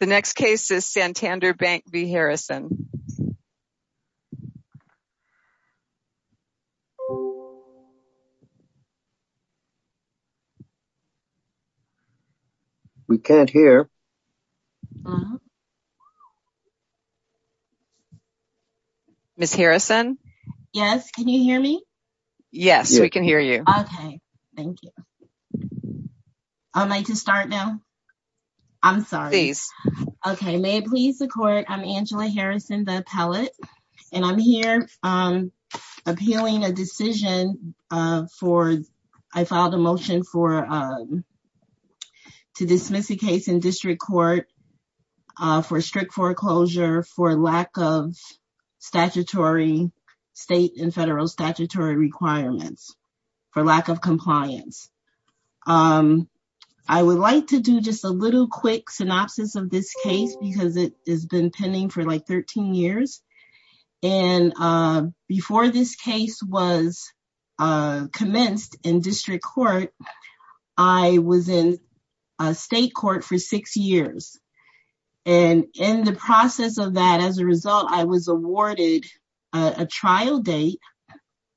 The next case is Santander Bank v. Harrison. We can't hear. Ms. Harrison? Yes, can you hear me? Yes, we can hear you. Okay, thank you. I'd like to start now. I'm sorry. Please. Okay, may it please the court. I'm Angela Harrison, the appellate, and I'm here appealing a decision for, I filed a motion for, to dismiss a case in district court for strict foreclosure, for lack of statutory state and federal statutory requirements, for lack of compliance. I would like to do just a little quick synopsis of this case because it has been pending for like 13 years. And before this case was commenced in district court, I was in state court for six years. And in the process of that, as a result, I was awarded a trial date,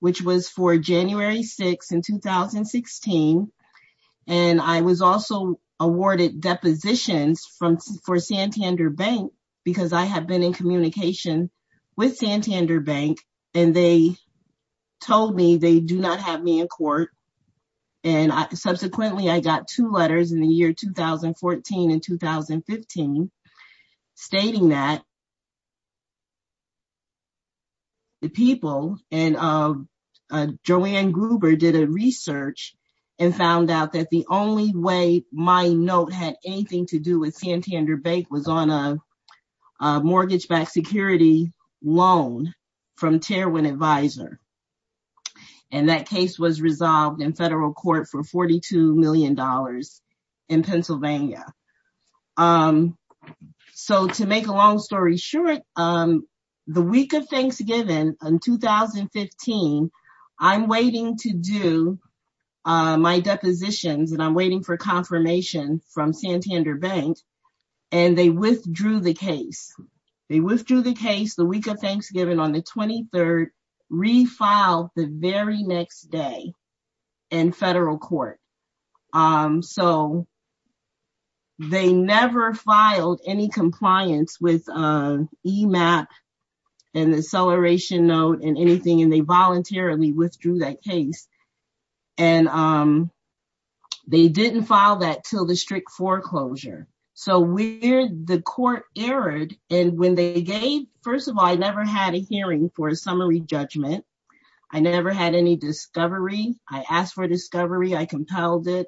which was for January 6th in 2016. And I was also awarded depositions for Santander Bank because I have been in communication with Santander Bank and they told me they do not have me in court. And subsequently, I got two letters in the year 2014 and 2015 stating that the people and Joanne Gruber did a research and found out that the only way my note had anything to do with Santander Bank was on a mortgage-backed security loan from Terwin Advisor. And that case was resolved in federal court for $42 million in Pennsylvania. So to make a long story short, the week of Thanksgiving in 2015, I'm waiting to do my depositions and I'm waiting for confirmation from Santander Bank and they withdrew the case. They withdrew the case the week of Thanksgiving on the 23rd, refiled the very next day in federal court. So they never filed any compliance with EMAP and the acceleration note and anything and they voluntarily withdrew that case. And they didn't file that till the strict foreclosure. So where the court erred and when they gave, first of all, I never had a hearing for a summary judgment. I never had any discovery. I asked for discovery. I compelled it.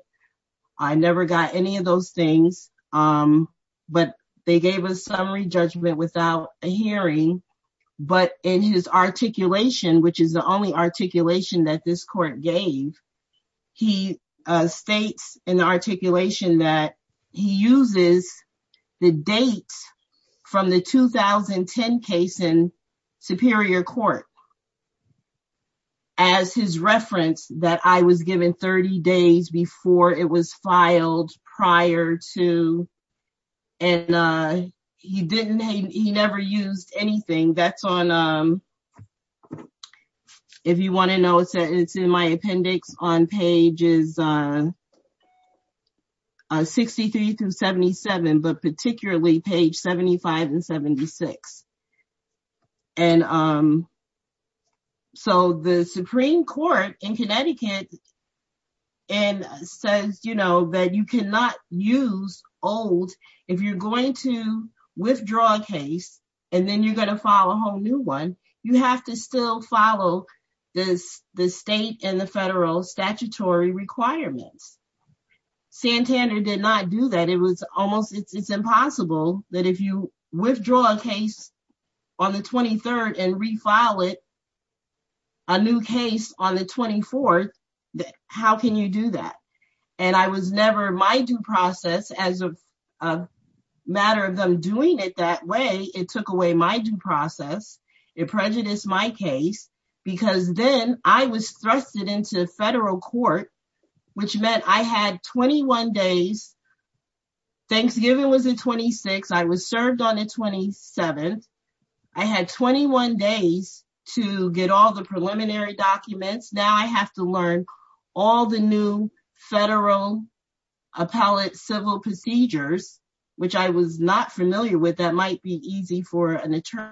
I never got any of those things. But they gave a summary judgment without a hearing. But in his articulation, which is the only articulation that this court gave, he states in the articulation that he uses the date from the 2010 case in Superior Court as his 30 days before it was filed prior to and he didn't, he never used anything. That's on, if you want to know, it's in my appendix on pages 63 through 77, but particularly page 75 and 76. And so the Supreme Court in Connecticut says, you know, that you cannot use old, if you're going to withdraw a case and then you're going to file a whole new one, you have to still follow the state and the federal statutory requirements. Santana did not do that. And it was almost, it's impossible that if you withdraw a case on the 23rd and refile it, a new case on the 24th, how can you do that? And I was never, my due process as a matter of them doing it that way, it took away my due process. It prejudiced my case because then I was thrusted into federal court, which meant I had 21 days. Thanksgiving was the 26th. I was served on the 27th. I had 21 days to get all the preliminary documents. Now I have to learn all the new federal appellate civil procedures, which I was not familiar with. That might be easy for an attorney.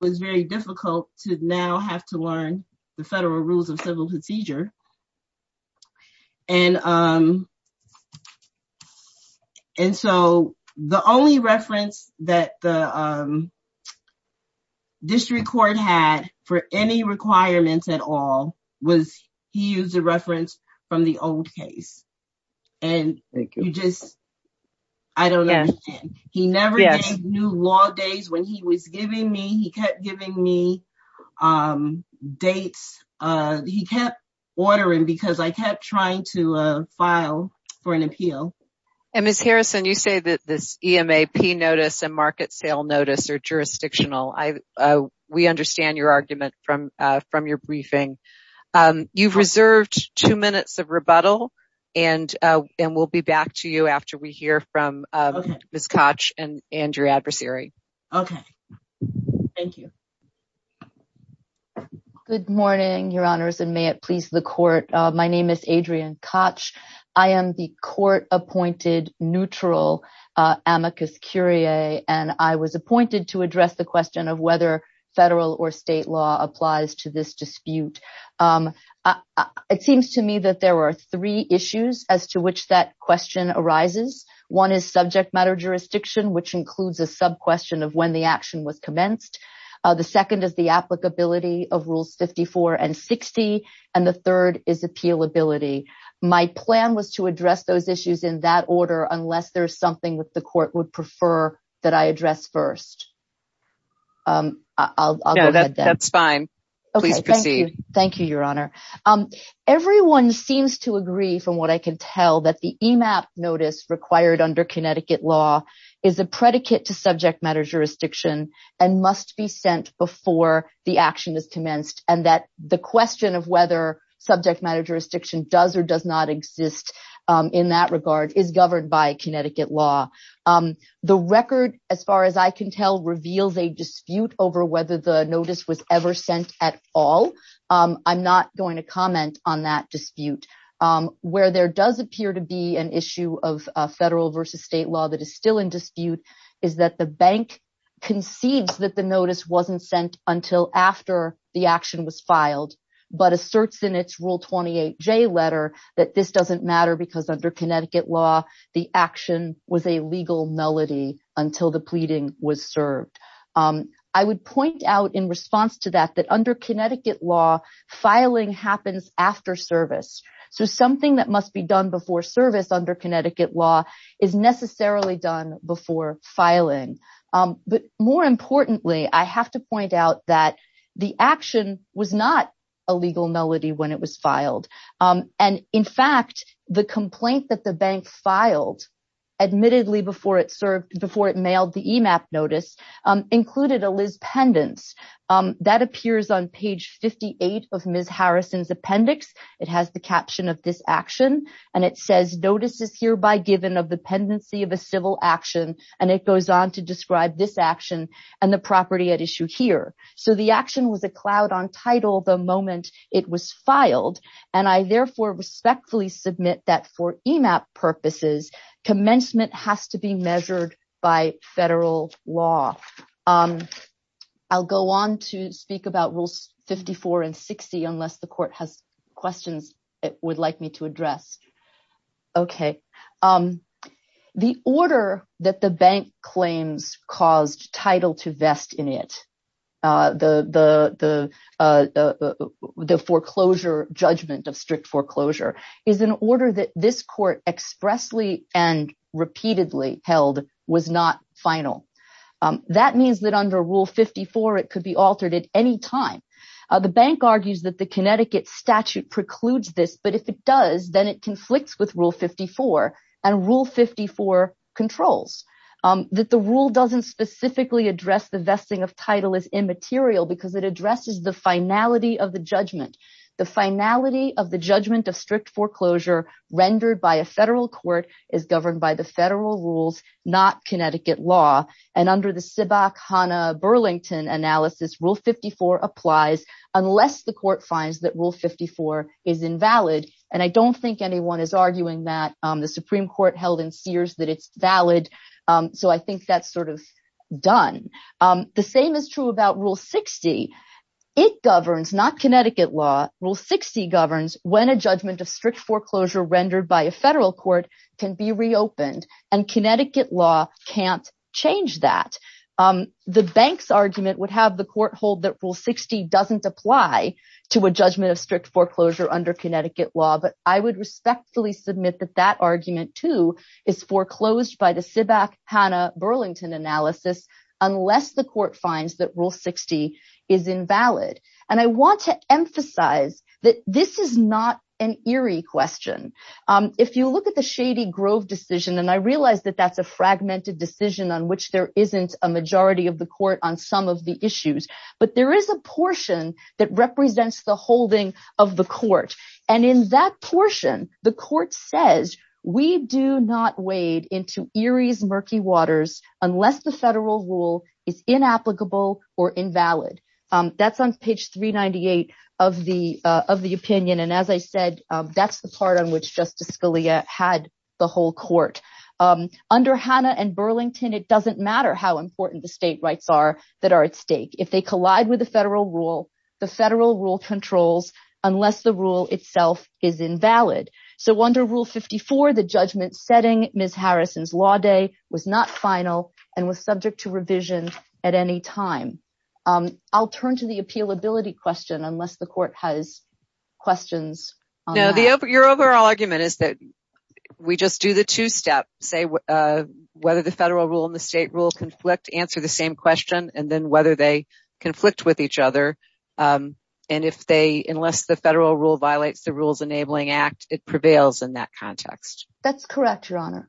It was very difficult to now have to learn the federal rules of civil procedure. And so the only reference that the district court had for any requirements at all was he used a reference from the old case. And you just, I don't know. He never gave new law days when he was giving me, he kept giving me dates. He kept ordering because I kept trying to file for an appeal. And Ms. Harrison, you say that this EMAP notice and market sale notice are jurisdictional. We understand your argument from your briefing. You've reserved two minutes of rebuttal and we'll be back to you after we hear from Ms. Koch and your adversary. Okay. Thank you. Good morning, your honors, and may it please the court. My name is Adrian Koch. I am the court appointed neutral amicus curiae. And I was appointed to address the question of whether federal or state law applies to this dispute. It seems to me that there were three issues as to which that question arises. One is subject matter jurisdiction, which includes a sub question of when the action was commenced. The second is the applicability of rules 54 and 60. And the third is appeal ability. My plan was to address those issues in that order, unless there's something that the court would prefer that I address first. I'll go ahead. That's fine. Please proceed. Thank you, your honor. Everyone seems to agree, from what I can tell, that the EMAP notice required under Connecticut law is a predicate to subject matter jurisdiction and must be sent before the action is commenced and that the question of whether subject matter jurisdiction does or does not exist in that regard is governed by Connecticut law. The record, as far as I can tell, reveals a dispute over whether the notice was ever sent at all. I'm not going to comment on that dispute. Where there does appear to be an issue of federal versus state law that is still in dispute is that the bank concedes that the notice wasn't sent until after the action was filed, but asserts in its Rule 28J letter that this doesn't matter because under Connecticut law, the action was a legal melody until the pleading was served. I would point out in response to that, that under Connecticut law, filing happens after service. So something that must be done before service under Connecticut law is necessarily done before filing. But more importantly, I have to point out that the action was not a legal melody when it was filed. In fact, the complaint that the bank filed, admittedly before it served, before it mailed the EMAP notice, included a Liz Pendence. That appears on page 58 of Ms. Harrison's appendix. It has the caption of this action, and it says, notices hereby given of the pendency of a civil action, and it goes on to describe this action and the property at issue here. So the action was a cloud on title the moment it was filed, and I therefore respectfully submit that for EMAP purposes, commencement has to be measured by federal law. I'll go on to speak about Rules 54 and 60, unless the court has questions it would like me to address. OK. The order that the bank claims caused title to vest in it, the foreclosure judgment of strict foreclosure, is an order that this court expressly and repeatedly held was not final. That means that under Rule 54 it could be altered at any time. The bank argues that the Connecticut statute precludes this, but if it does, then it conflicts with Rule 54, and Rule 54 controls. That the rule doesn't specifically address the vesting of title as immaterial because it addresses the finality of the judgment. The finality of the judgment of strict foreclosure rendered by a federal court is governed by the federal rules, not Connecticut law. And under the Sibach-Hannah-Burlington analysis, Rule 54 applies unless the court finds that Rule 54 is invalid. And I don't think anyone is arguing that. The Supreme Court held in Sears that it's valid, so I think that's sort of done. The same is true about Rule 60. It governs, not Connecticut law. Rule 60 governs when a judgment of strict foreclosure rendered by a federal court can be reopened, and Connecticut law can't change that. The bank's argument would have the court hold that Rule 60 doesn't apply to a judgment of strict foreclosure under Connecticut law. But I would respectfully submit that that argument, too, is foreclosed by the Sibach-Hannah-Burlington analysis unless the court finds that Rule 60 is invalid. And I want to emphasize that this is not an Erie question. If you look at the Shady Grove decision, and I realize that that's a fragmented decision on which there isn't a majority of the court on some of the issues, but there is a portion that represents the holding of the court. And in that portion, the court says, we do not wade into Erie's murky waters unless the federal rule is inapplicable or invalid. That's on page 398 of the opinion, and as I said, that's the part on which Justice Scalia had the whole court. Under Hannah and Burlington, it doesn't matter how important the state rights are that are at stake. If they collide with the federal rule, the federal rule controls unless the rule itself is invalid. So under Rule 54, the judgment setting Ms. Harrison's law day was not final and was subject to revision at any time. I'll turn to the appealability question unless the court has questions on that. No, your overall argument is that we just do the two-step. Say whether the federal rule and the state rule conflict, answer the same question, and then whether they conflict with each other. And if they, unless the federal rule violates the Rules Enabling Act, it prevails in that context. That's correct, Your Honor.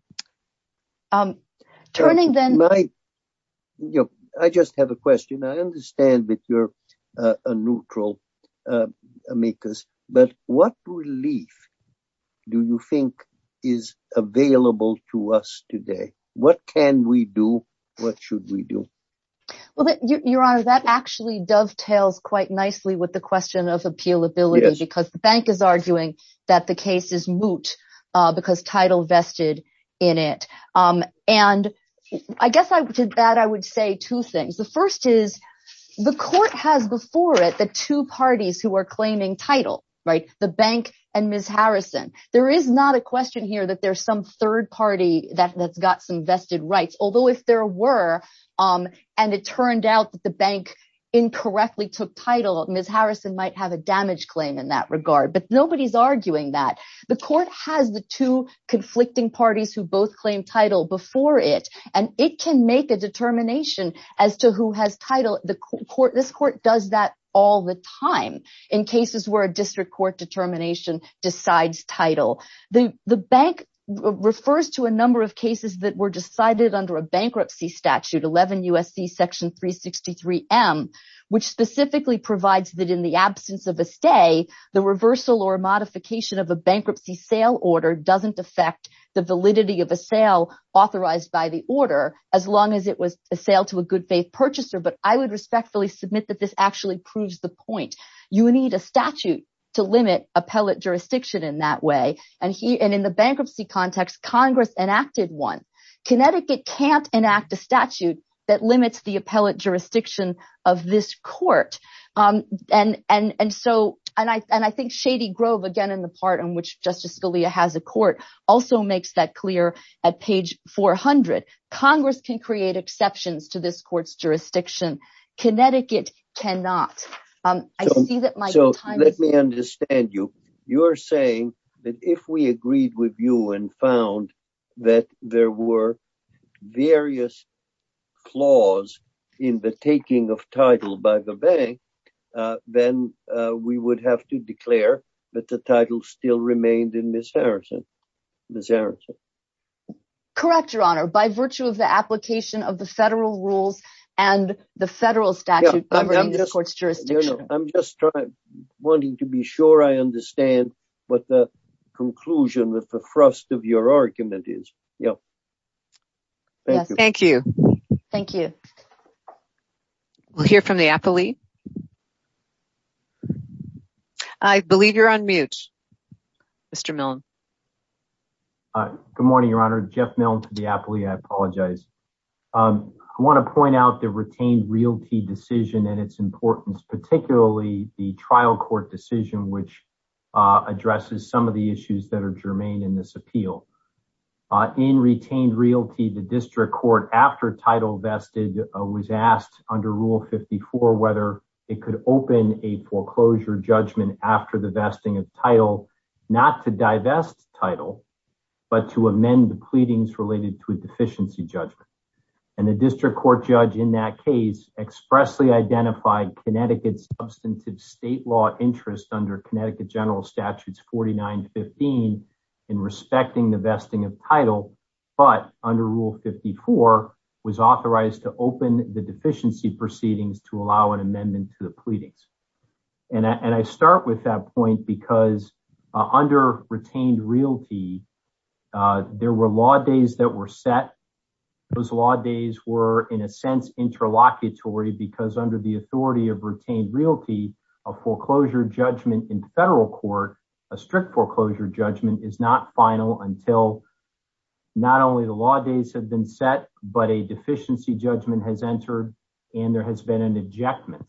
I just have a question. I understand that you're a neutral amicus, but what relief do you think is available to us today? What can we do? What should we do? Well, Your Honor, that actually dovetails quite nicely with the question of appealability, because the bank is arguing that the case is moot because title vested in it. And I guess to that I would say two things. The first is the court has before it the two parties who are claiming title, right? The bank and Ms. Harrison. There is not a question here that there's some third party that's got some vested rights. Although if there were, and it turned out that the bank incorrectly took title, Ms. Harrison might have a damage claim in that regard. But nobody's arguing that. The court has the two conflicting parties who both claim title before it, and it can make a determination as to who has title. This court does that all the time in cases where a district court determination decides title. The bank refers to a number of cases that were decided under a bankruptcy statute, 11 U.S.C. Section 363M, which specifically provides that in the absence of a stay, the reversal or modification of a bankruptcy sale order doesn't affect the validity of a sale authorized by the order, as long as it was a sale to a good faith purchaser. But I would respectfully submit that this actually proves the point. You need a statute to limit appellate jurisdiction in that way. And in the bankruptcy context, Congress enacted one. Connecticut can't enact a statute that limits the appellate jurisdiction of this court. And I think Shady Grove, again, in the part in which Justice Scalia has a court, also makes that clear at page 400. Congress can create exceptions to this court's jurisdiction. Connecticut cannot. So let me understand you. You're saying that if we agreed with you and found that there were various flaws in the taking of title by the bank, then we would have to declare that the title still remained in Ms. Harrison. Ms. Harrison. Correct, Your Honor. By virtue of the application of the federal rules and the federal statute governing the court's jurisdiction. I'm just wanting to be sure I understand what the conclusion with the thrust of your argument is. Yeah. Thank you. Thank you. We'll hear from the appellee. I believe you're on mute. Mr. Milne. Good morning, Your Honor. Jeff Milne to the appellee. I apologize. I want to point out the retained realty decision and its importance, particularly the trial court decision, which addresses some of the issues that are germane in this appeal. In retained realty, the district court after title vested was asked under Rule 54, whether it could open a foreclosure judgment after the vesting of title, not to divest title, but to amend the pleadings related to a deficiency judgment. And the district court judge in that case expressly identified Connecticut substantive state law interest under Connecticut General Statutes 4915 in respecting the vesting of title, but under Rule 54 was authorized to open the deficiency proceedings to allow an amendment to the pleadings. And I start with that point because under retained realty, there were law days that were set. Those law days were, in a sense, interlocutory because under the authority of retained realty, a foreclosure judgment in federal court, a strict foreclosure judgment is not final until not only the law days have been set, but a deficiency judgment has entered, and there has been an ejectment.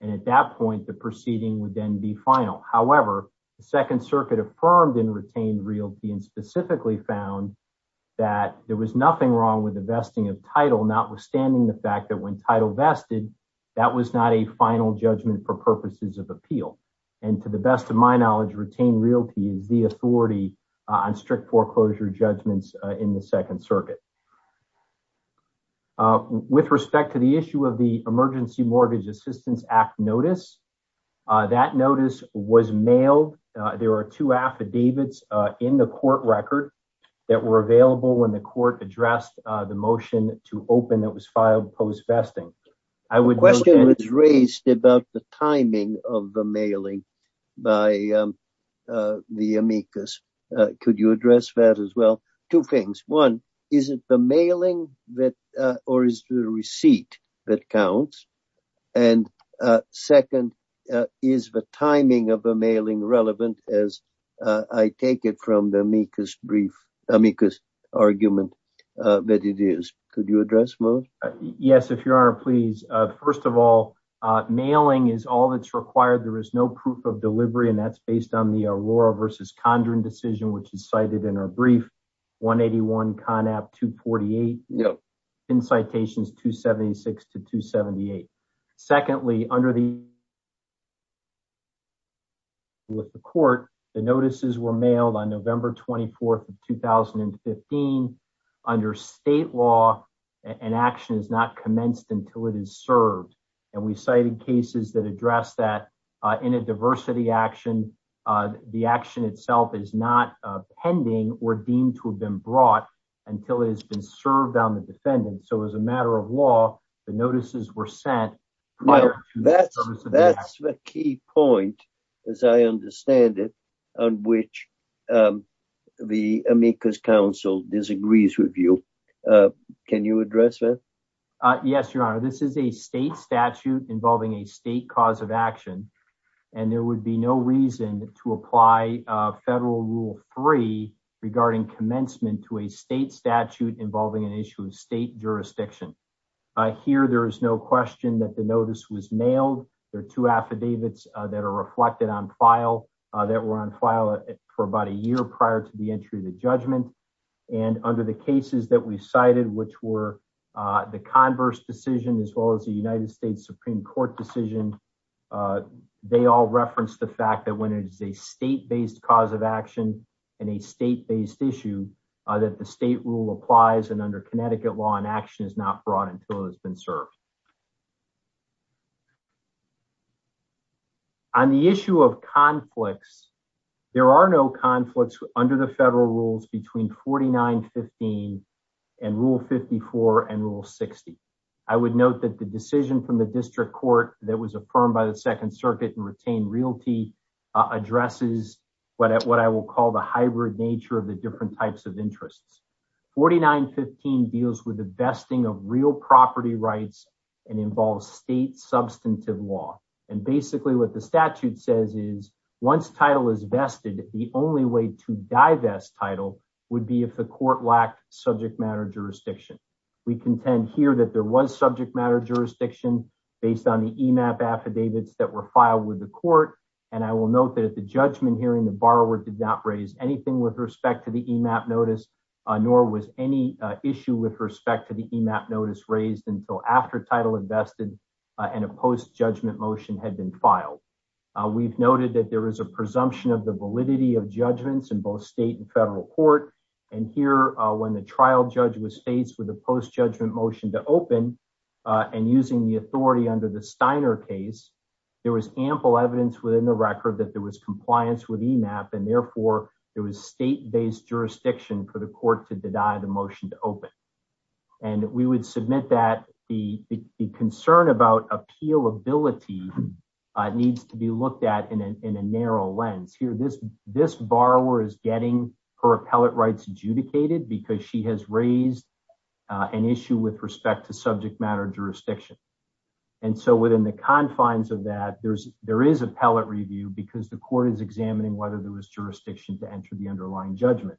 And at that point, the proceeding would then be final. However, the Second Circuit affirmed in retained realty and specifically found that there was nothing wrong with the vesting of title, notwithstanding the fact that when title vested, that was not a final judgment for purposes of appeal. And to the best of my knowledge, retained realty is the authority on strict foreclosure judgments in the Second Circuit. With respect to the issue of the Emergency Mortgage Assistance Act notice, that notice was mailed. There are two affidavits in the court record that were available when the court addressed the motion to open that was filed post-vesting. The question was raised about the timing of the mailing by the amicus. Could you address that as well? Two things. One, is it the mailing or is the receipt that counts? And second, is the timing of the mailing relevant as I take it from the amicus argument that it is? Could you address both? Yes, if your honor, please. First of all, mailing is all that's required. There is no proof of delivery, and that's based on the Aurora versus Condren decision, which is cited in our brief 181 CONAP 248 in citations 276 to 278. Secondly, under the… with the court, the notices were mailed on November 24th of 2015. Under state law, an action is not commenced until it is served. And we cited cases that address that in a diversity action. The action itself is not pending or deemed to have been brought until it has been served on the defendant. So as a matter of law, the notices were sent. That's the key point, as I understand it, on which the amicus counsel disagrees with you. Can you address that? Yes, your honor. This is a state statute involving a state cause of action, and there would be no reason to apply federal rule three regarding commencement to a state statute involving an issue of state jurisdiction. Here, there is no question that the notice was mailed. There are two affidavits that are reflected on file that were on file for about a year prior to the entry of the judgment. And under the cases that we cited, which were the converse decision, as well as the United States Supreme Court decision, they all reference the fact that when it is a state-based cause of action and a state-based issue, that the state rule applies, and under Connecticut law, an action is not brought until it has been served. On the issue of conflicts, there are no conflicts under the federal rules between 4915 and Rule 54 and Rule 60. I would note that the decision from the district court that was affirmed by the Second Circuit and retained realty addresses what I will call the hybrid nature of the different types of interests. 4915 deals with the vesting of real property rights and involves state substantive law. And basically what the statute says is, once title is vested, the only way to divest title would be if the court lacked subject matter jurisdiction. We contend here that there was subject matter jurisdiction based on the EMAP affidavits that were filed with the court. And I will note that at the judgment hearing, the borrower did not raise anything with respect to the EMAP notice, nor was any issue with respect to the EMAP notice raised until after title invested and a post-judgment motion had been filed. We've noted that there is a presumption of the validity of judgments in both state and federal court. And here, when the trial judge was faced with a post-judgment motion to open and using the authority under the Steiner case, there was ample evidence within the record that there was compliance with EMAP, and therefore, there was state-based jurisdiction for the court to deny the motion to open. And we would submit that the concern about appealability needs to be looked at in a narrow lens. Here, this borrower is getting her appellate rights adjudicated because she has raised an issue with respect to subject matter jurisdiction. And so within the confines of that, there is appellate review because the court is examining whether there was jurisdiction to enter the underlying judgment.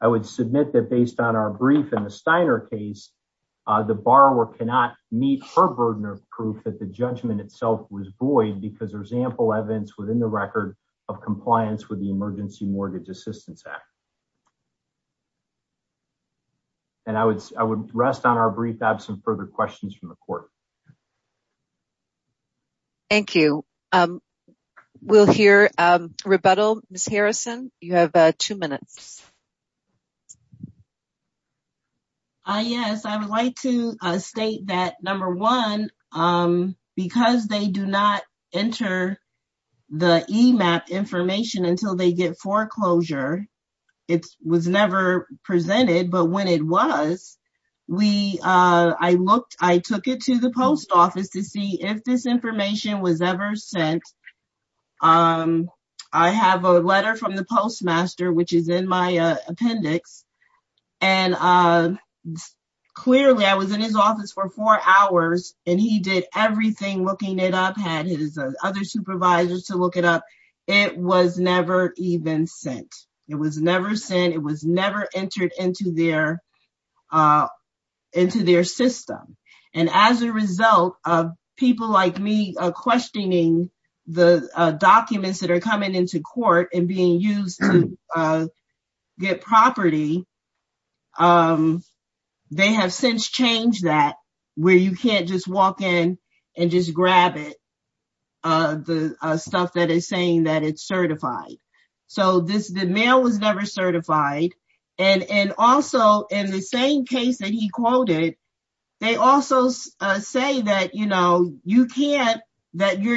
I would submit that based on our brief in the Steiner case, the borrower cannot meet her burden of proof that the judgment itself was void because there's ample evidence within the record of compliance with the Emergency Mortgage Assistance Act. And I would rest on our brief. I have some further questions from the court. Thank you. We'll hear rebuttal. Ms. Harrison, you have two minutes. Yes, I would like to state that, number one, because they do not enter the EMAP information until they get foreclosure, it was never presented. But when it was, I took it to the post office to see if this information was ever sent. I have a letter from the postmaster, which is in my appendix. And clearly, I was in his office for four hours, and he did everything looking it up, had his other supervisors to look it up. It was never even sent. It was never sent. It was never entered into their system. And as a result of people like me questioning the documents that are coming into court and being used to get property, they have since changed that, where you can't just walk in and just grab it, the stuff that is saying that it's certified. So the mail was never certified. And also, in the same case that he quoted, they also say that your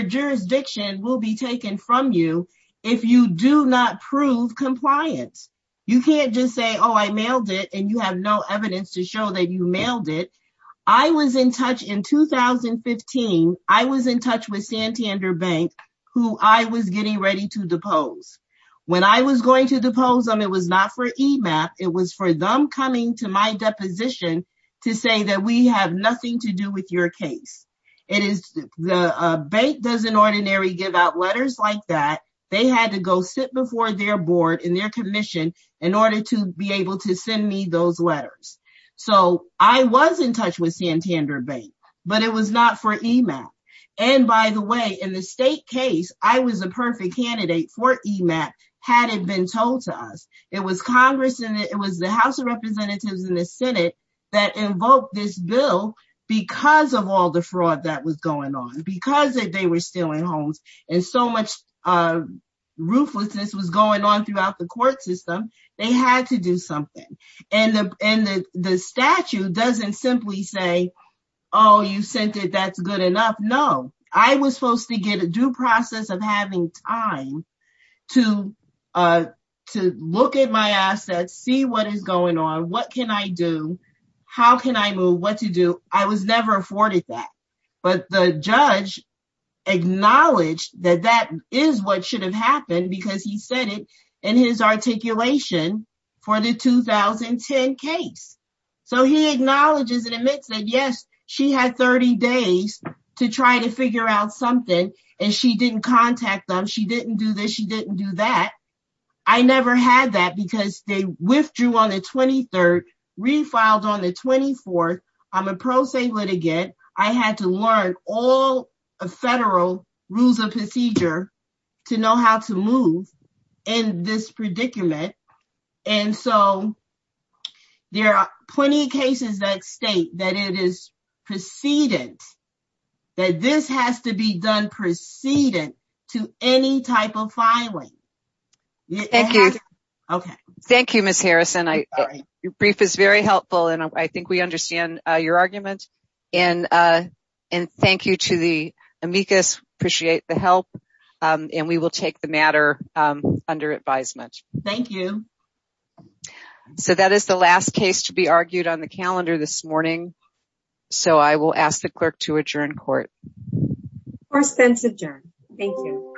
jurisdiction will be taken from you if you do not prove compliance. You can't just say, oh, I mailed it, and you have no evidence to show that you mailed it. I was in touch in 2015. I was in touch with Santander Bank, who I was getting ready to depose. When I was going to depose them, it was not for EMAP. It was for them coming to my deposition to say that we have nothing to do with your case. It is the bank doesn't ordinarily give out letters like that. They had to go sit before their board and their commission in order to be able to send me those letters. So I was in touch with Santander Bank, but it was not for EMAP. And by the way, in the state case, I was a perfect candidate for EMAP, had it been told to us. It was Congress and it was the House of Representatives and the Senate that invoked this bill because of all the fraud that was going on, because they were stealing homes and so much ruthlessness was going on throughout the court system. They had to do something. And the statute doesn't simply say, oh, you sent it, that's good enough. No. I was supposed to get a due process of having time to look at my assets, see what is going on, what can I do, how can I move, what to do. I was never afforded that. But the judge acknowledged that that is what should have happened because he said it in his articulation for the 2010 case. So he acknowledges and admits that, yes, she had 30 days to try to figure out something and she didn't contact them. She didn't do this. She didn't do that. I never had that because they withdrew on the 23rd, refiled on the 24th. I'm a pro se litigant. I had to learn all the federal rules of procedure to know how to move in this predicament. And so there are plenty of cases that state that it is precedence, that this has to be done precedence to any type of filing. Thank you. Thank you, Ms. Harrison. Your brief is very helpful and I think we understand your argument. And thank you to the amicus. Appreciate the help. And we will take the matter under advisement. Thank you. So that is the last case to be argued on the calendar this morning. So I will ask the clerk to adjourn court. Court stands adjourned. Thank you.